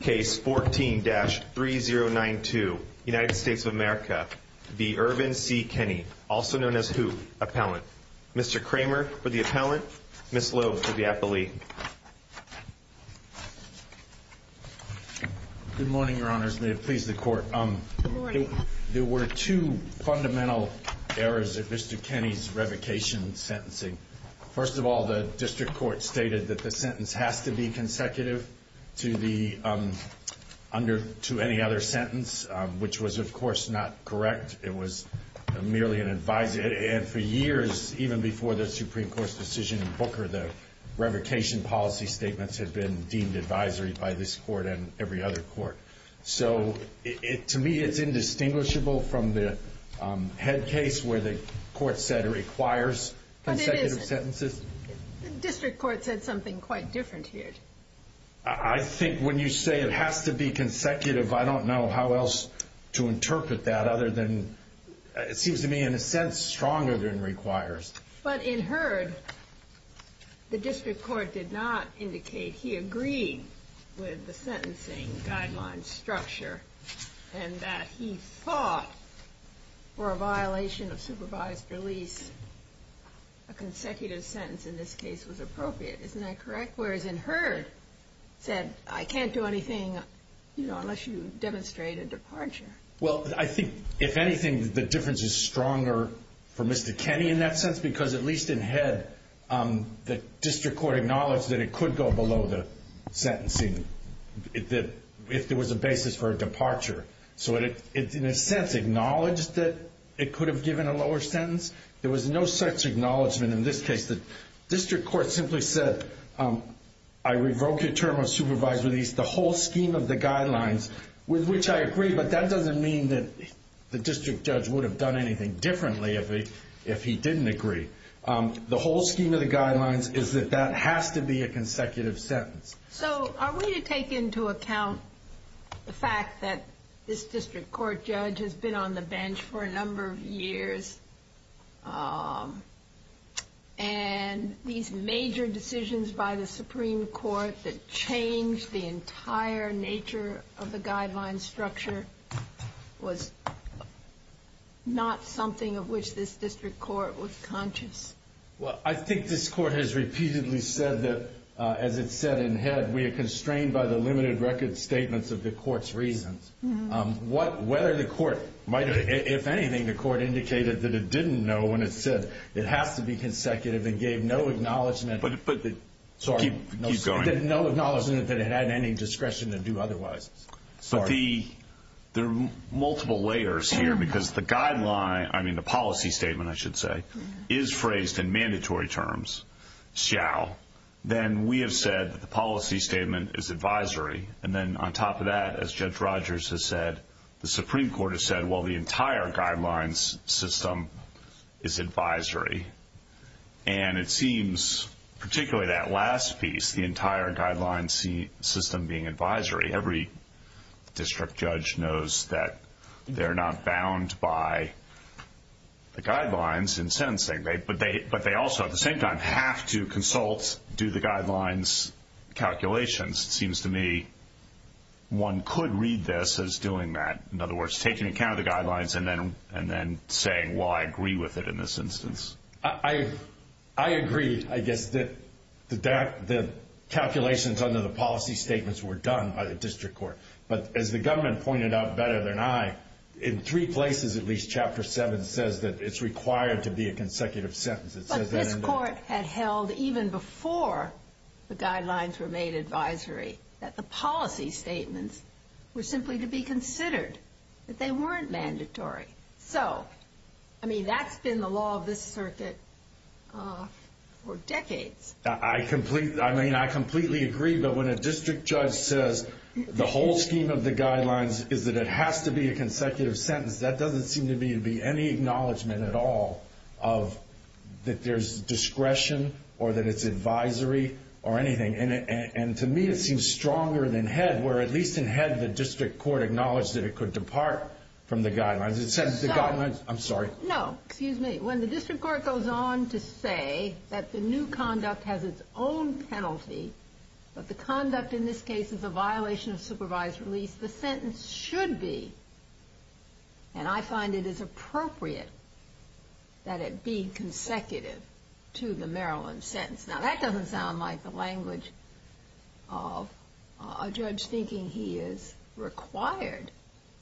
Case 14-3092 United States of America v. Irvin C. Kenny, also known as Hoop, appellant. Mr. Kramer for the appellant, Ms. Lowe for the appellee. Good morning, your honors. May it please the court. Good morning. There were two fundamental errors in Mr. Kenny's revocation sentencing. First of all, the district court stated that the sentence has to be consecutive to any other sentence, which was of course not correct. It was merely an advisory. And for years, even before the Supreme Court's decision in Booker, the revocation policy statements had been deemed advisory by this court and every other court. So to me, it's indistinguishable from the head case where the court said it requires consecutive sentences. District court said something quite different here. I think when you say it has to be consecutive, I don't know how else to interpret that other than it seems to me in a sense stronger than requires. But in Hurd, the district court did not indicate he agreed with the sentencing guideline structure and that he fought for a violation of supervised release. A consecutive sentence in this case was appropriate. Isn't that correct? Whereas in Hurd said, I can't do anything unless you demonstrate a departure. Well, I think, if anything, the difference is stronger for Mr. Kenny in that sense. Because at least in Head, the district court acknowledged that it could go below the sentencing if there was a basis for a departure. So in a sense, it acknowledged that it could have given a lower sentence. There was no such acknowledgement in this case. The district court simply said, I revoke your term of supervised release. The whole scheme of the guidelines with which I agree, but that doesn't mean that the district judge would have done anything differently if he didn't agree. The whole scheme of the guidelines is that that has to be a consecutive sentence. So are we to take into account the fact that this district court judge has been on the bench for a number of years? And these major decisions by the Supreme Court that changed the entire nature of the guideline structure was not something of which this district court was conscious? Well, I think this court has repeatedly said that, as it said in Head, we are constrained by the limited record statements of the court's reasons. Whether the court might have, if anything, the court indicated that it didn't know when it said it has to be consecutive and gave no acknowledgement that it had any discretion to do otherwise. But there are multiple layers here because the guideline, I mean the policy statement, I should say, is phrased in mandatory terms, shall. Then we have said that the policy statement is advisory. And then on top of that, as Judge Rogers has said, the Supreme Court has said, well, the entire guidelines system is advisory. And it seems, particularly that last piece, the entire guideline system being advisory, every district judge knows that they're not bound by the guidelines in sentencing. But they also, at the same time, have to consult, do the guidelines calculations. It seems to me one could read this as doing that. In other words, taking account of the guidelines and then saying, well, I agree with it in this instance. I agree, I guess, that the calculations under the policy statements were done by the district court. But as the government pointed out better than I, in three places at least, Chapter 7 says that it's required to be a consecutive sentence. But this court had held, even before the guidelines were made advisory, that the policy statements were simply to be considered, that they weren't mandatory. So, I mean, that's been the law of this circuit for decades. I completely agree, but when a district judge says the whole scheme of the guidelines is that it has to be a consecutive sentence, that doesn't seem to be any acknowledgement at all of that there's discretion or that it's advisory or anything. And to me, it seems stronger than head, where at least in head, the district court acknowledged that it could depart from the guidelines. It says the guidelines. I'm sorry. No, excuse me. When the district court goes on to say that the new conduct has its own penalty, but the conduct in this case is a violation of supervised release, the sentence should be, and I find it is appropriate, that it be consecutive to the Maryland sentence. Now, that doesn't sound like the language of a judge thinking he is required,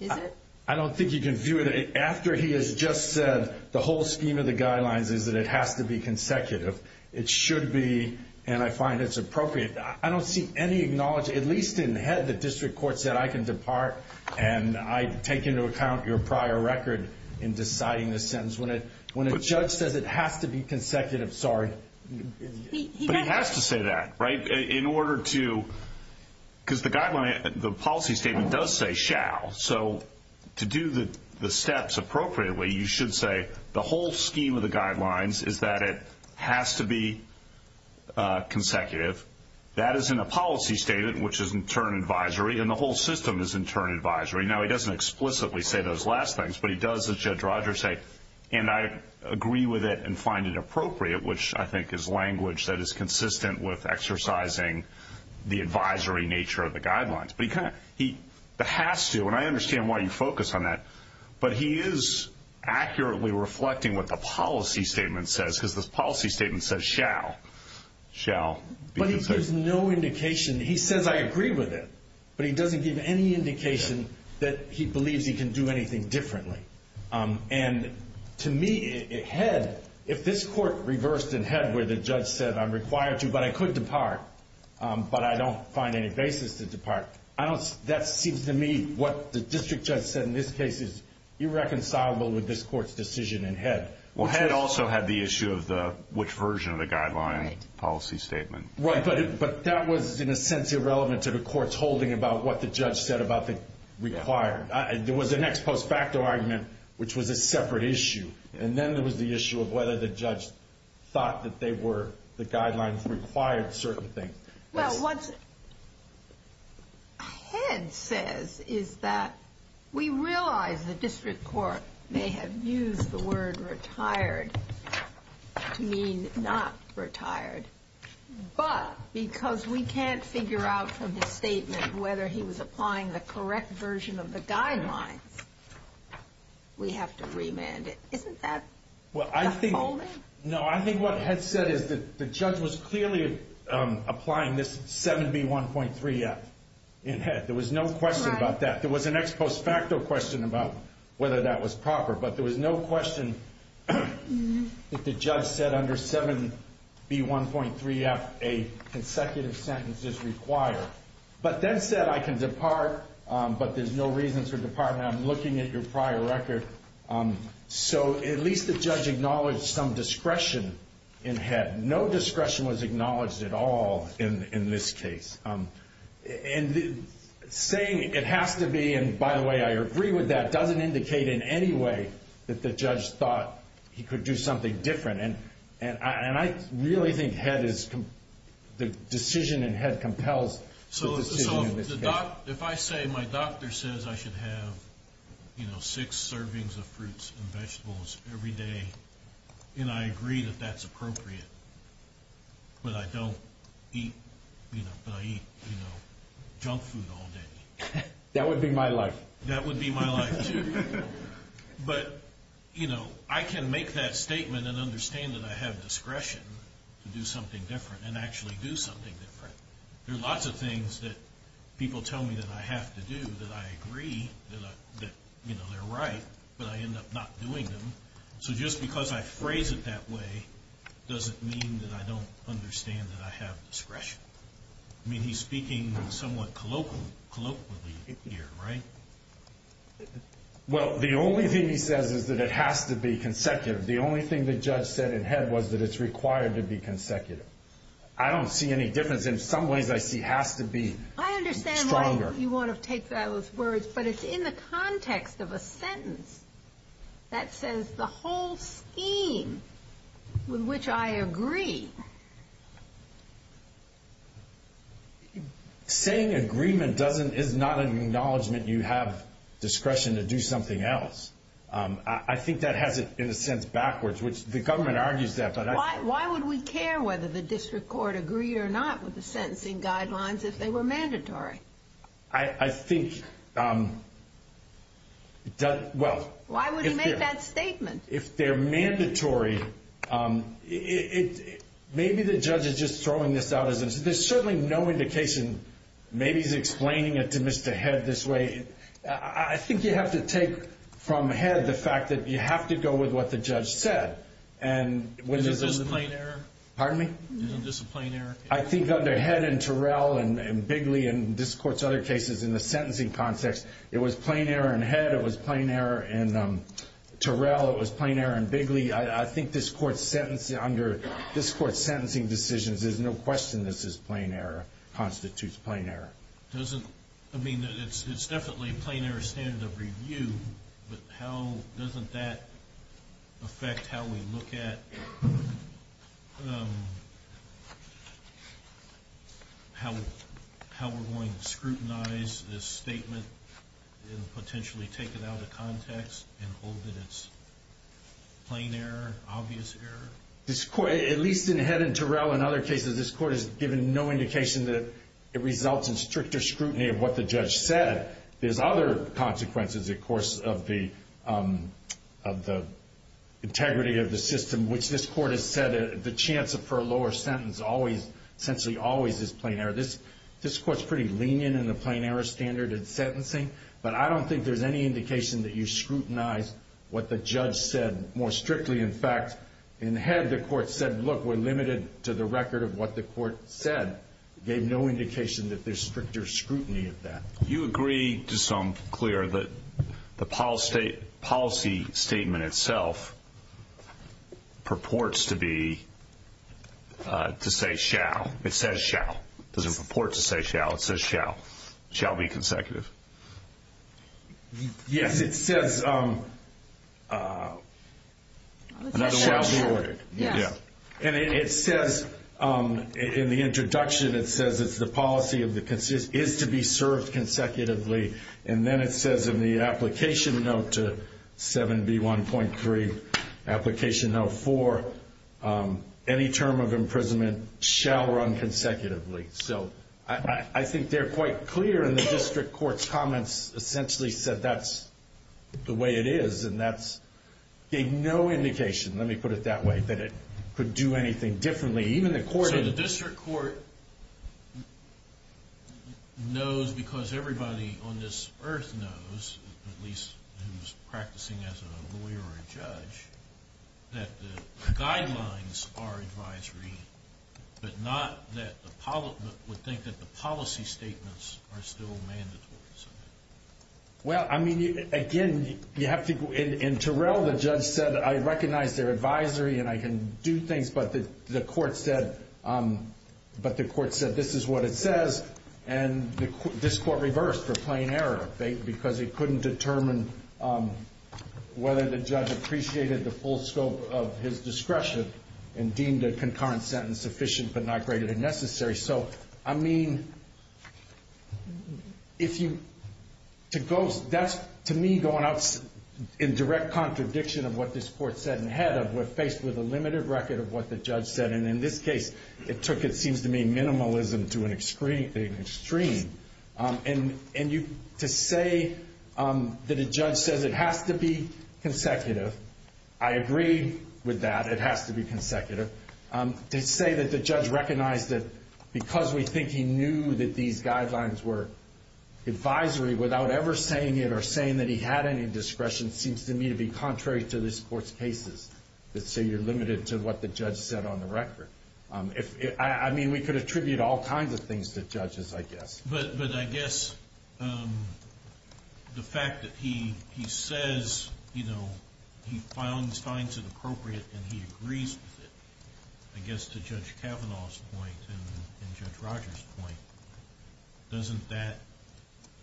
is it? I don't think you can view it after he has just said the whole scheme of the guidelines is that it has to be consecutive. It should be, and I find it's appropriate. I don't see any acknowledgement, at least in head, the district court said I can depart and I take into account your prior record in deciding the sentence. When a judge says it has to be consecutive, sorry. But he has to say that, right? In order to, because the policy statement does say shall. So to do the steps appropriately, you should say the whole scheme of the guidelines is that it has to be consecutive. That is in a policy statement, which is in turn advisory, and the whole system is in turn advisory. Now, he doesn't explicitly say those last things, but he does, as Judge Rogers said, and I agree with it and find it appropriate, which I think is language that is consistent with exercising the advisory nature of the guidelines. But he has to, and I understand why you focus on that, but he is accurately reflecting what the policy statement says, because the policy statement says shall. But he gives no indication. He says I agree with it, but he doesn't give any indication that he believes he can do anything differently. And to me, head, if this court reversed in head where the judge said I'm required to, but I could depart, but I don't find any basis to depart, that seems to me what the district judge said in this case is irreconcilable with this court's decision in head. Well, head also had the issue of which version of the guideline policy statement. Right, but that was in a sense irrelevant to the court's holding about what the judge said about the required. There was an ex post facto argument, which was a separate issue, and then there was the issue of whether the judge thought that the guidelines required certain things. Well, what head says is that we realize the district court may have used the word retired to mean not retired, but because we can't figure out from the statement whether he was applying the correct version of the guidelines, we have to remand it. Isn't that the holding? No, I think what head said is that the judge was clearly applying this 7B1.3F in head. There was no question about that. There was an ex post facto question about whether that was proper, but there was no question that the judge said under 7B1.3F a consecutive sentence is required, but then said I can depart, but there's no reason to depart, and I'm looking at your prior record. So at least the judge acknowledged some discretion in head. No discretion was acknowledged at all in this case, and saying it has to be, and by the way, I agree with that, doesn't indicate in any way that the judge thought he could do something different, and I really think head is, the decision in head compels the decision in this case. So if I say my doctor says I should have six servings of fruits and vegetables every day, and I agree that that's appropriate, but I don't eat, but I eat junk food all day. That would be my life. That would be my life, too. But, you know, I can make that statement and understand that I have discretion to do something different and actually do something different. There are lots of things that people tell me that I have to do that I agree that, you know, they're right, but I end up not doing them. So just because I phrase it that way doesn't mean that I don't understand that I have discretion. I mean, he's speaking somewhat colloquially here, right? Well, the only thing he says is that it has to be consecutive. The only thing the judge said in head was that it's required to be consecutive. I don't see any difference. In some ways, I see it has to be stronger. I understand why you want to take those words, but it's in the context of a sentence that says the whole scheme with which I agree. Saying agreement is not an acknowledgment you have discretion to do something else. I think that has it in a sense backwards, which the government argues that. Why would we care whether the district court agreed or not with the sentencing guidelines if they were mandatory? I think, well. Why would he make that statement? If they're mandatory, maybe the judge is just throwing this out. There's certainly no indication. Maybe he's explaining it to Mr. Head this way. I think you have to take from Head the fact that you have to go with what the judge said. Was it just a plain error? Pardon me? Was it just a plain error? I think under Head and Terrell and Bigley and this court's other cases in the sentencing context, it was plain error in Head, it was plain error in Terrell, it was plain error in Bigley. I think this court's sentencing decisions, there's no question this is plain error, constitutes plain error. I mean, it's definitely a plain error standard of review, but doesn't that affect how we look at how we're going to scrutinize this statement and potentially take it out of context and hold it as plain error, obvious error? At least in Head and Terrell and other cases, this court has given no indication that it results in stricter scrutiny of what the judge said. There's other consequences, of course, of the integrity of the system, which this court has said the chance for a lower sentence essentially always is plain error. This court's pretty lenient in the plain error standard in sentencing, but I don't think there's any indication that you scrutinize what the judge said more strictly. In fact, in Head, the court said, look, we're limited to the record of what the court said. It gave no indication that there's stricter scrutiny of that. You agree to some clear that the policy statement itself purports to say shall. It says shall. It doesn't purport to say shall. It says shall. Shall be consecutive. Yes, it says shall be ordered. Yes. And it says in the introduction, it says it's the policy is to be served consecutively. And then it says in the application note to 7B1.3, application note 4, any term of imprisonment shall run consecutively. So I think they're quite clear in the district court's comments essentially said that's the way it is, and that's gave no indication, let me put it that way, that it could do anything differently. So the district court knows because everybody on this earth knows, at least who's practicing as a lawyer or a judge, that the guidelines are advisory, but not that the public would think that the policy statements are still mandatory. Well, I mean, again, you have to go in. Terrell, the judge, said I recognize their advisory and I can do things, but the court said this is what it says, and this court reversed for plain error because it couldn't determine whether the judge appreciated the full scope of his discretion and deemed a concurrent sentence sufficient but not greater than necessary. So, I mean, to me, going out in direct contradiction of what this court said in head of, we're faced with a limited record of what the judge said. And in this case, it seems to me minimalism to an extreme. And to say that a judge says it has to be consecutive, I agree with that. It has to be consecutive. To say that the judge recognized that because we think he knew that these guidelines were advisory without ever saying it or saying that he had any discretion seems to me to be contrary to this court's cases that say you're limited to what the judge said on the record. I mean, we could attribute all kinds of things to judges, I guess. But I guess the fact that he says he finds it appropriate and he agrees with it, I guess to Judge Kavanaugh's point and Judge Rogers' point, doesn't that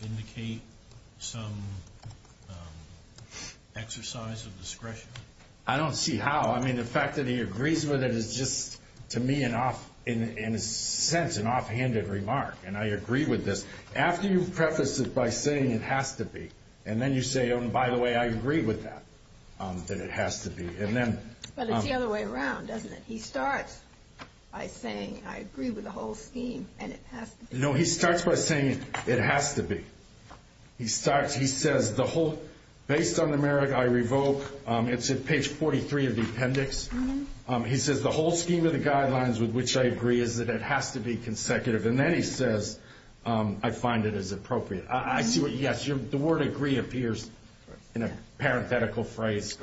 indicate some exercise of discretion? I don't see how. I mean, the fact that he agrees with it is just, to me, in a sense, an offhanded remark. And I agree with this. After you preface it by saying it has to be, and then you say, oh, and by the way, I agree with that, that it has to be. But it's the other way around, doesn't it? He starts by saying, I agree with the whole scheme, and it has to be. No, he starts by saying it has to be. He says, based on the merit I revoke, it's at page 43 of the appendix. He says, the whole scheme of the guidelines with which I agree is that it has to be consecutive. And then he says, I find it is appropriate. Yes, the word agree appears in a parenthetical phrase.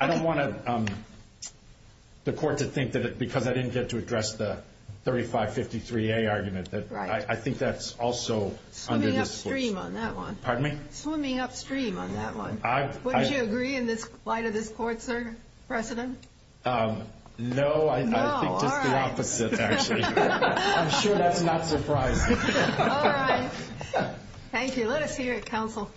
I don't want the court to think that because I didn't get to address the 3553A argument that I think that's also under this force. Swimming upstream on that one. Pardon me? Swimming upstream on that one. Wouldn't you agree in light of this court, sir? President? No, I think just the opposite, actually. I'm sure that's not surprising. All right. Thank you. Let us hear it, counsel.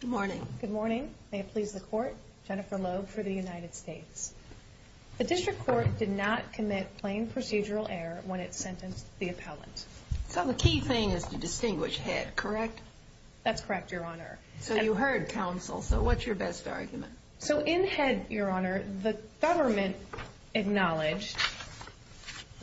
Good morning. Good morning. May it please the court. Jennifer Loeb for the United States. The district court did not commit plain procedural error when it sentenced the appellant. So the key thing is to distinguish head, correct? That's correct, Your Honor. So you heard counsel. So what's your best argument? So in head, Your Honor, the government acknowledged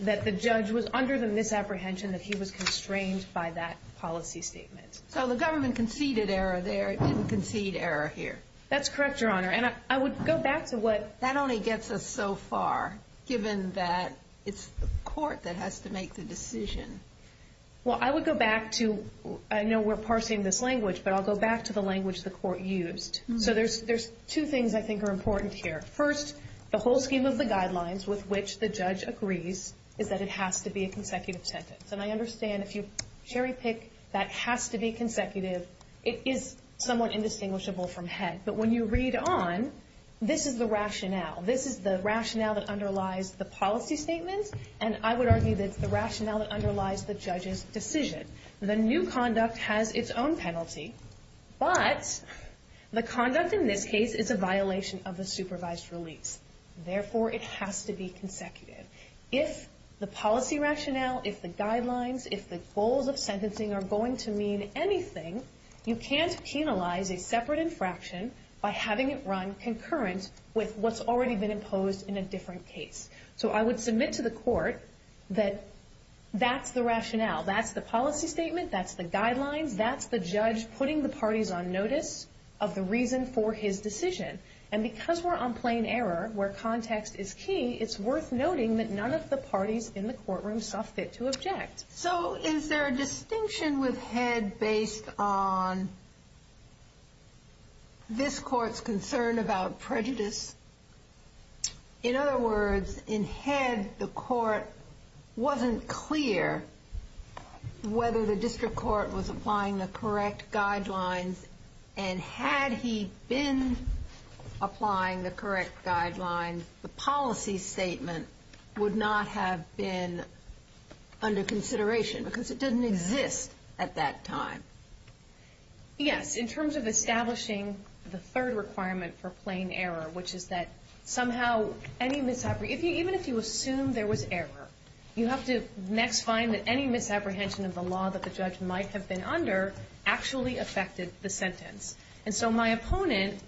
that the judge was under the misapprehension that he was constrained by that policy statement. So the government conceded error there, didn't concede error here. That's correct, Your Honor. That only gets us so far, given that it's the court that has to make the decision. Well, I would go back to, I know we're parsing this language, but I'll go back to the language the court used. So there's two things I think are important here. First, the whole scheme of the guidelines with which the judge agrees is that it has to be a consecutive sentence. And I understand if you cherry pick that has to be consecutive, it is somewhat indistinguishable from head. But when you read on, this is the rationale. This is the rationale that underlies the policy statement, and I would argue that it's the rationale that underlies the judge's decision. The new conduct has its own penalty, but the conduct in this case is a violation of the supervised release. Therefore, it has to be consecutive. If the policy rationale, if the guidelines, if the goals of sentencing are going to mean anything, you can't penalize a separate infraction by having it run concurrent with what's already been imposed in a different case. So I would submit to the court that that's the rationale, that's the policy statement, that's the guidelines, that's the judge putting the parties on notice of the reason for his decision. And because we're on plain error, where context is key, it's worth noting that none of the parties in the courtroom saw fit to object. So is there a distinction with head based on this court's concern about prejudice? In other words, in head, the court wasn't clear whether the district court was applying the correct guidelines, and had he been applying the correct guidelines, the policy statement would not have been under consideration, because it doesn't exist at that time. Yes. In terms of establishing the third requirement for plain error, which is that somehow, even if you assume there was error, you have to next find that any misapprehension of the law that the judge might have been under actually affected the sentence. And so my opponent,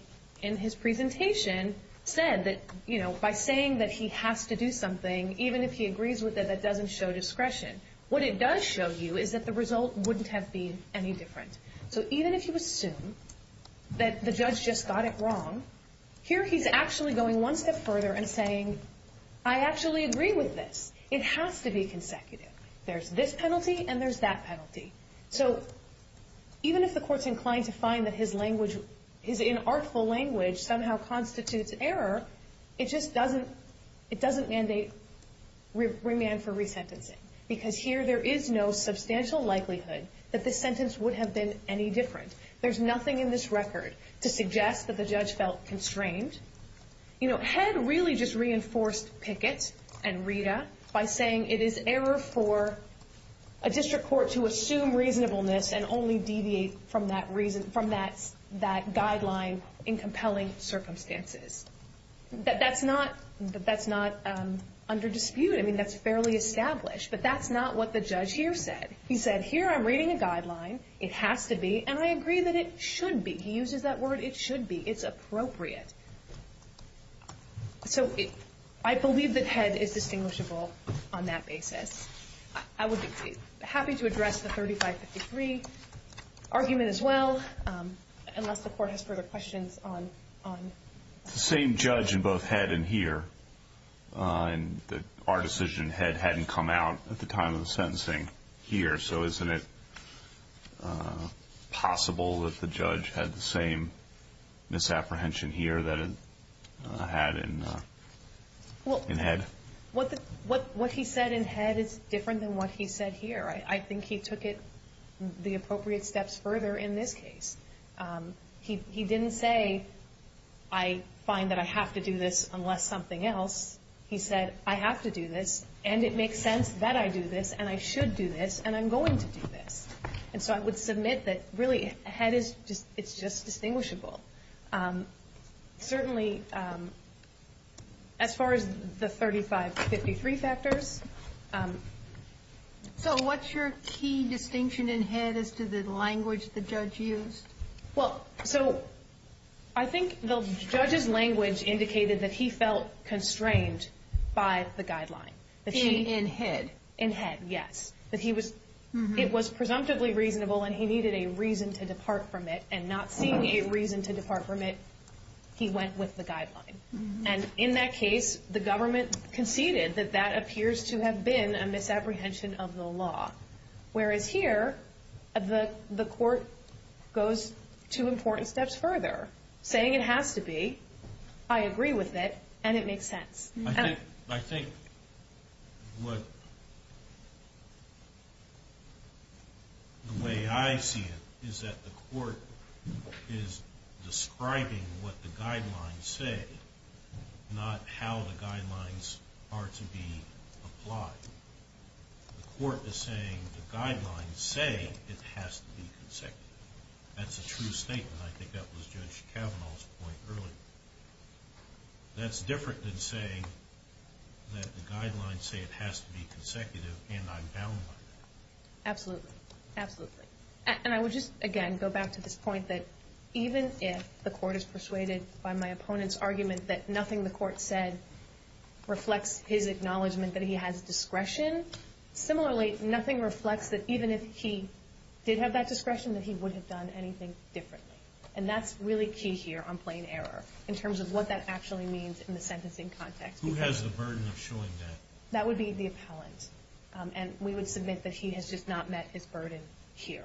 in his presentation, said that by saying that he has to do something, even if he agrees with it, that doesn't show discretion. What it does show you is that the result wouldn't have been any different. So even if you assume that the judge just got it wrong, here he's actually going one step further and saying, I actually agree with this. It has to be consecutive. There's this penalty and there's that penalty. So even if the court's inclined to find that his language, his inartful language, somehow constitutes error, it just doesn't mandate remand for resentencing, because here there is no substantial likelihood that this sentence would have been any different. There's nothing in this record to suggest that the judge felt constrained. Head really just reinforced Pickett and Rita by saying it is error for a district court to assume reasonableness and only deviate from that guideline in compelling circumstances. That's not under dispute. I mean, that's fairly established. But that's not what the judge here said. He said, here I'm reading a guideline. It has to be. And I agree that it should be. He uses that word, it should be. It's appropriate. So I believe that Head is distinguishable on that basis. I would be happy to address the 3553 argument as well, unless the court has further questions on it. It's the same judge in both Head and here. Our decision, Head hadn't come out at the time of the sentencing here. So isn't it possible that the judge had the same misapprehension here that it had in Head? What he said in Head is different than what he said here. I think he took it the appropriate steps further in this case. He didn't say, I find that I have to do this unless something else. He said, I have to do this, and it makes sense that I do this, and I should do this, and I'm going to do this. And so I would submit that, really, Head is just distinguishable. Certainly, as far as the 3553 factors. So what's your key distinction in Head as to the language the judge used? Well, so I think the judge's language indicated that he felt constrained by the guideline. In Head? In Head, yes. It was presumptively reasonable, and he needed a reason to depart from it, and not seeing a reason to depart from it, he went with the guideline. And in that case, the government conceded that that appears to have been a misapprehension of the law. Whereas here, the court goes two important steps further, saying it has to be, I agree with it, and it makes sense. I think the way I see it is that the court is describing what the guidelines say, not how the guidelines are to be applied. The court is saying the guidelines say it has to be consecutive. That's a true statement. I think that was Judge Kavanaugh's point earlier. That's different than saying that the guidelines say it has to be consecutive, and I'm down with it. Absolutely. Absolutely. And I would just, again, go back to this point that even if the court is persuaded by my opponent's argument that nothing the court said reflects his acknowledgment that he has discretion, similarly, nothing reflects that even if he did have that discretion, that he would have done anything differently. And that's really key here on plain error in terms of what that actually means in the sentencing context. Who has the burden of showing that? That would be the appellant. And we would submit that he has just not met his burden here,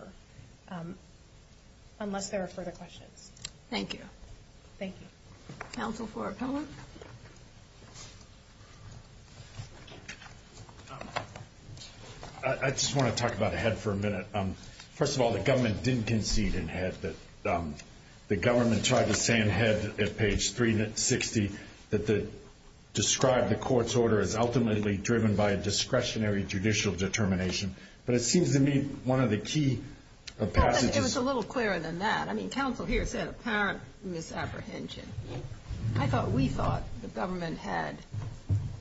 unless there are further questions. Thank you. Thank you. Counsel for appellant? I just want to talk about ahead for a minute. First of all, the government didn't concede in head that the government tried to say in head at page 360 that describe the court's order as ultimately driven by a discretionary judicial determination. But it seems to me one of the key passages. It was a little clearer than that. I mean, counsel here said apparent misapprehension. I thought we thought the government had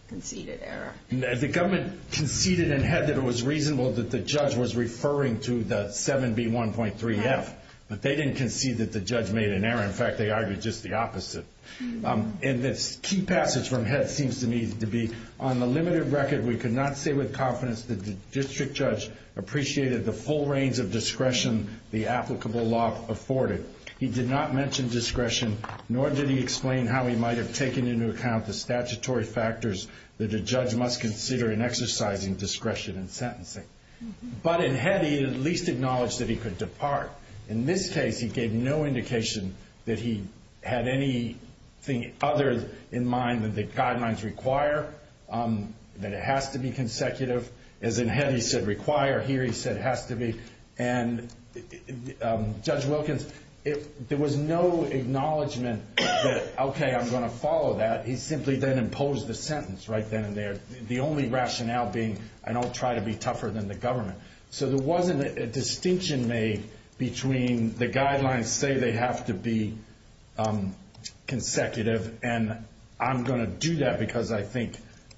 conceded error. The government conceded in head that it was reasonable that the judge was referring to the 7B1.3F. But they didn't concede that the judge made an error. In fact, they argued just the opposite. And this key passage from head seems to me to be on the limited record, we could not say with confidence that the district judge appreciated the full range of discretion the applicable law afforded. He did not mention discretion, nor did he explain how he might have taken into account the statutory factors that a judge must consider in exercising discretion in sentencing. But in head, he at least acknowledged that he could depart. In this case, he gave no indication that he had anything other in mind than the guidelines require, that it has to be consecutive. As in head, he said require. Here he said has to be. And Judge Wilkins, there was no acknowledgment that, okay, I'm going to follow that. He simply then imposed the sentence right then and there, the only rationale being I don't try to be tougher than the government. So there wasn't a distinction made between the guidelines say they have to be consecutive and I'm going to do that because I think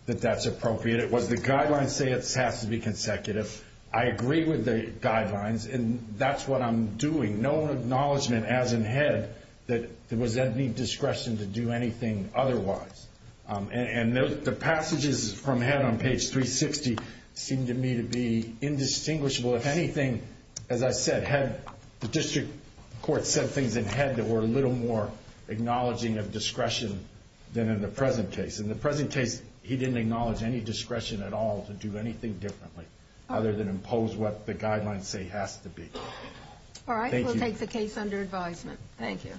that that's appropriate. It was the guidelines say it has to be consecutive. I agree with the guidelines, and that's what I'm doing. No acknowledgment as in head that there was any discretion to do anything otherwise. And the passages from head on page 360 seemed to me to be indistinguishable. If anything, as I said, the district court said things in head that were a little more acknowledging of discretion than in the present case. In the present case, he didn't acknowledge any discretion at all to do anything differently other than impose what the guidelines say has to be. All right, we'll take the case under advisement. Thank you.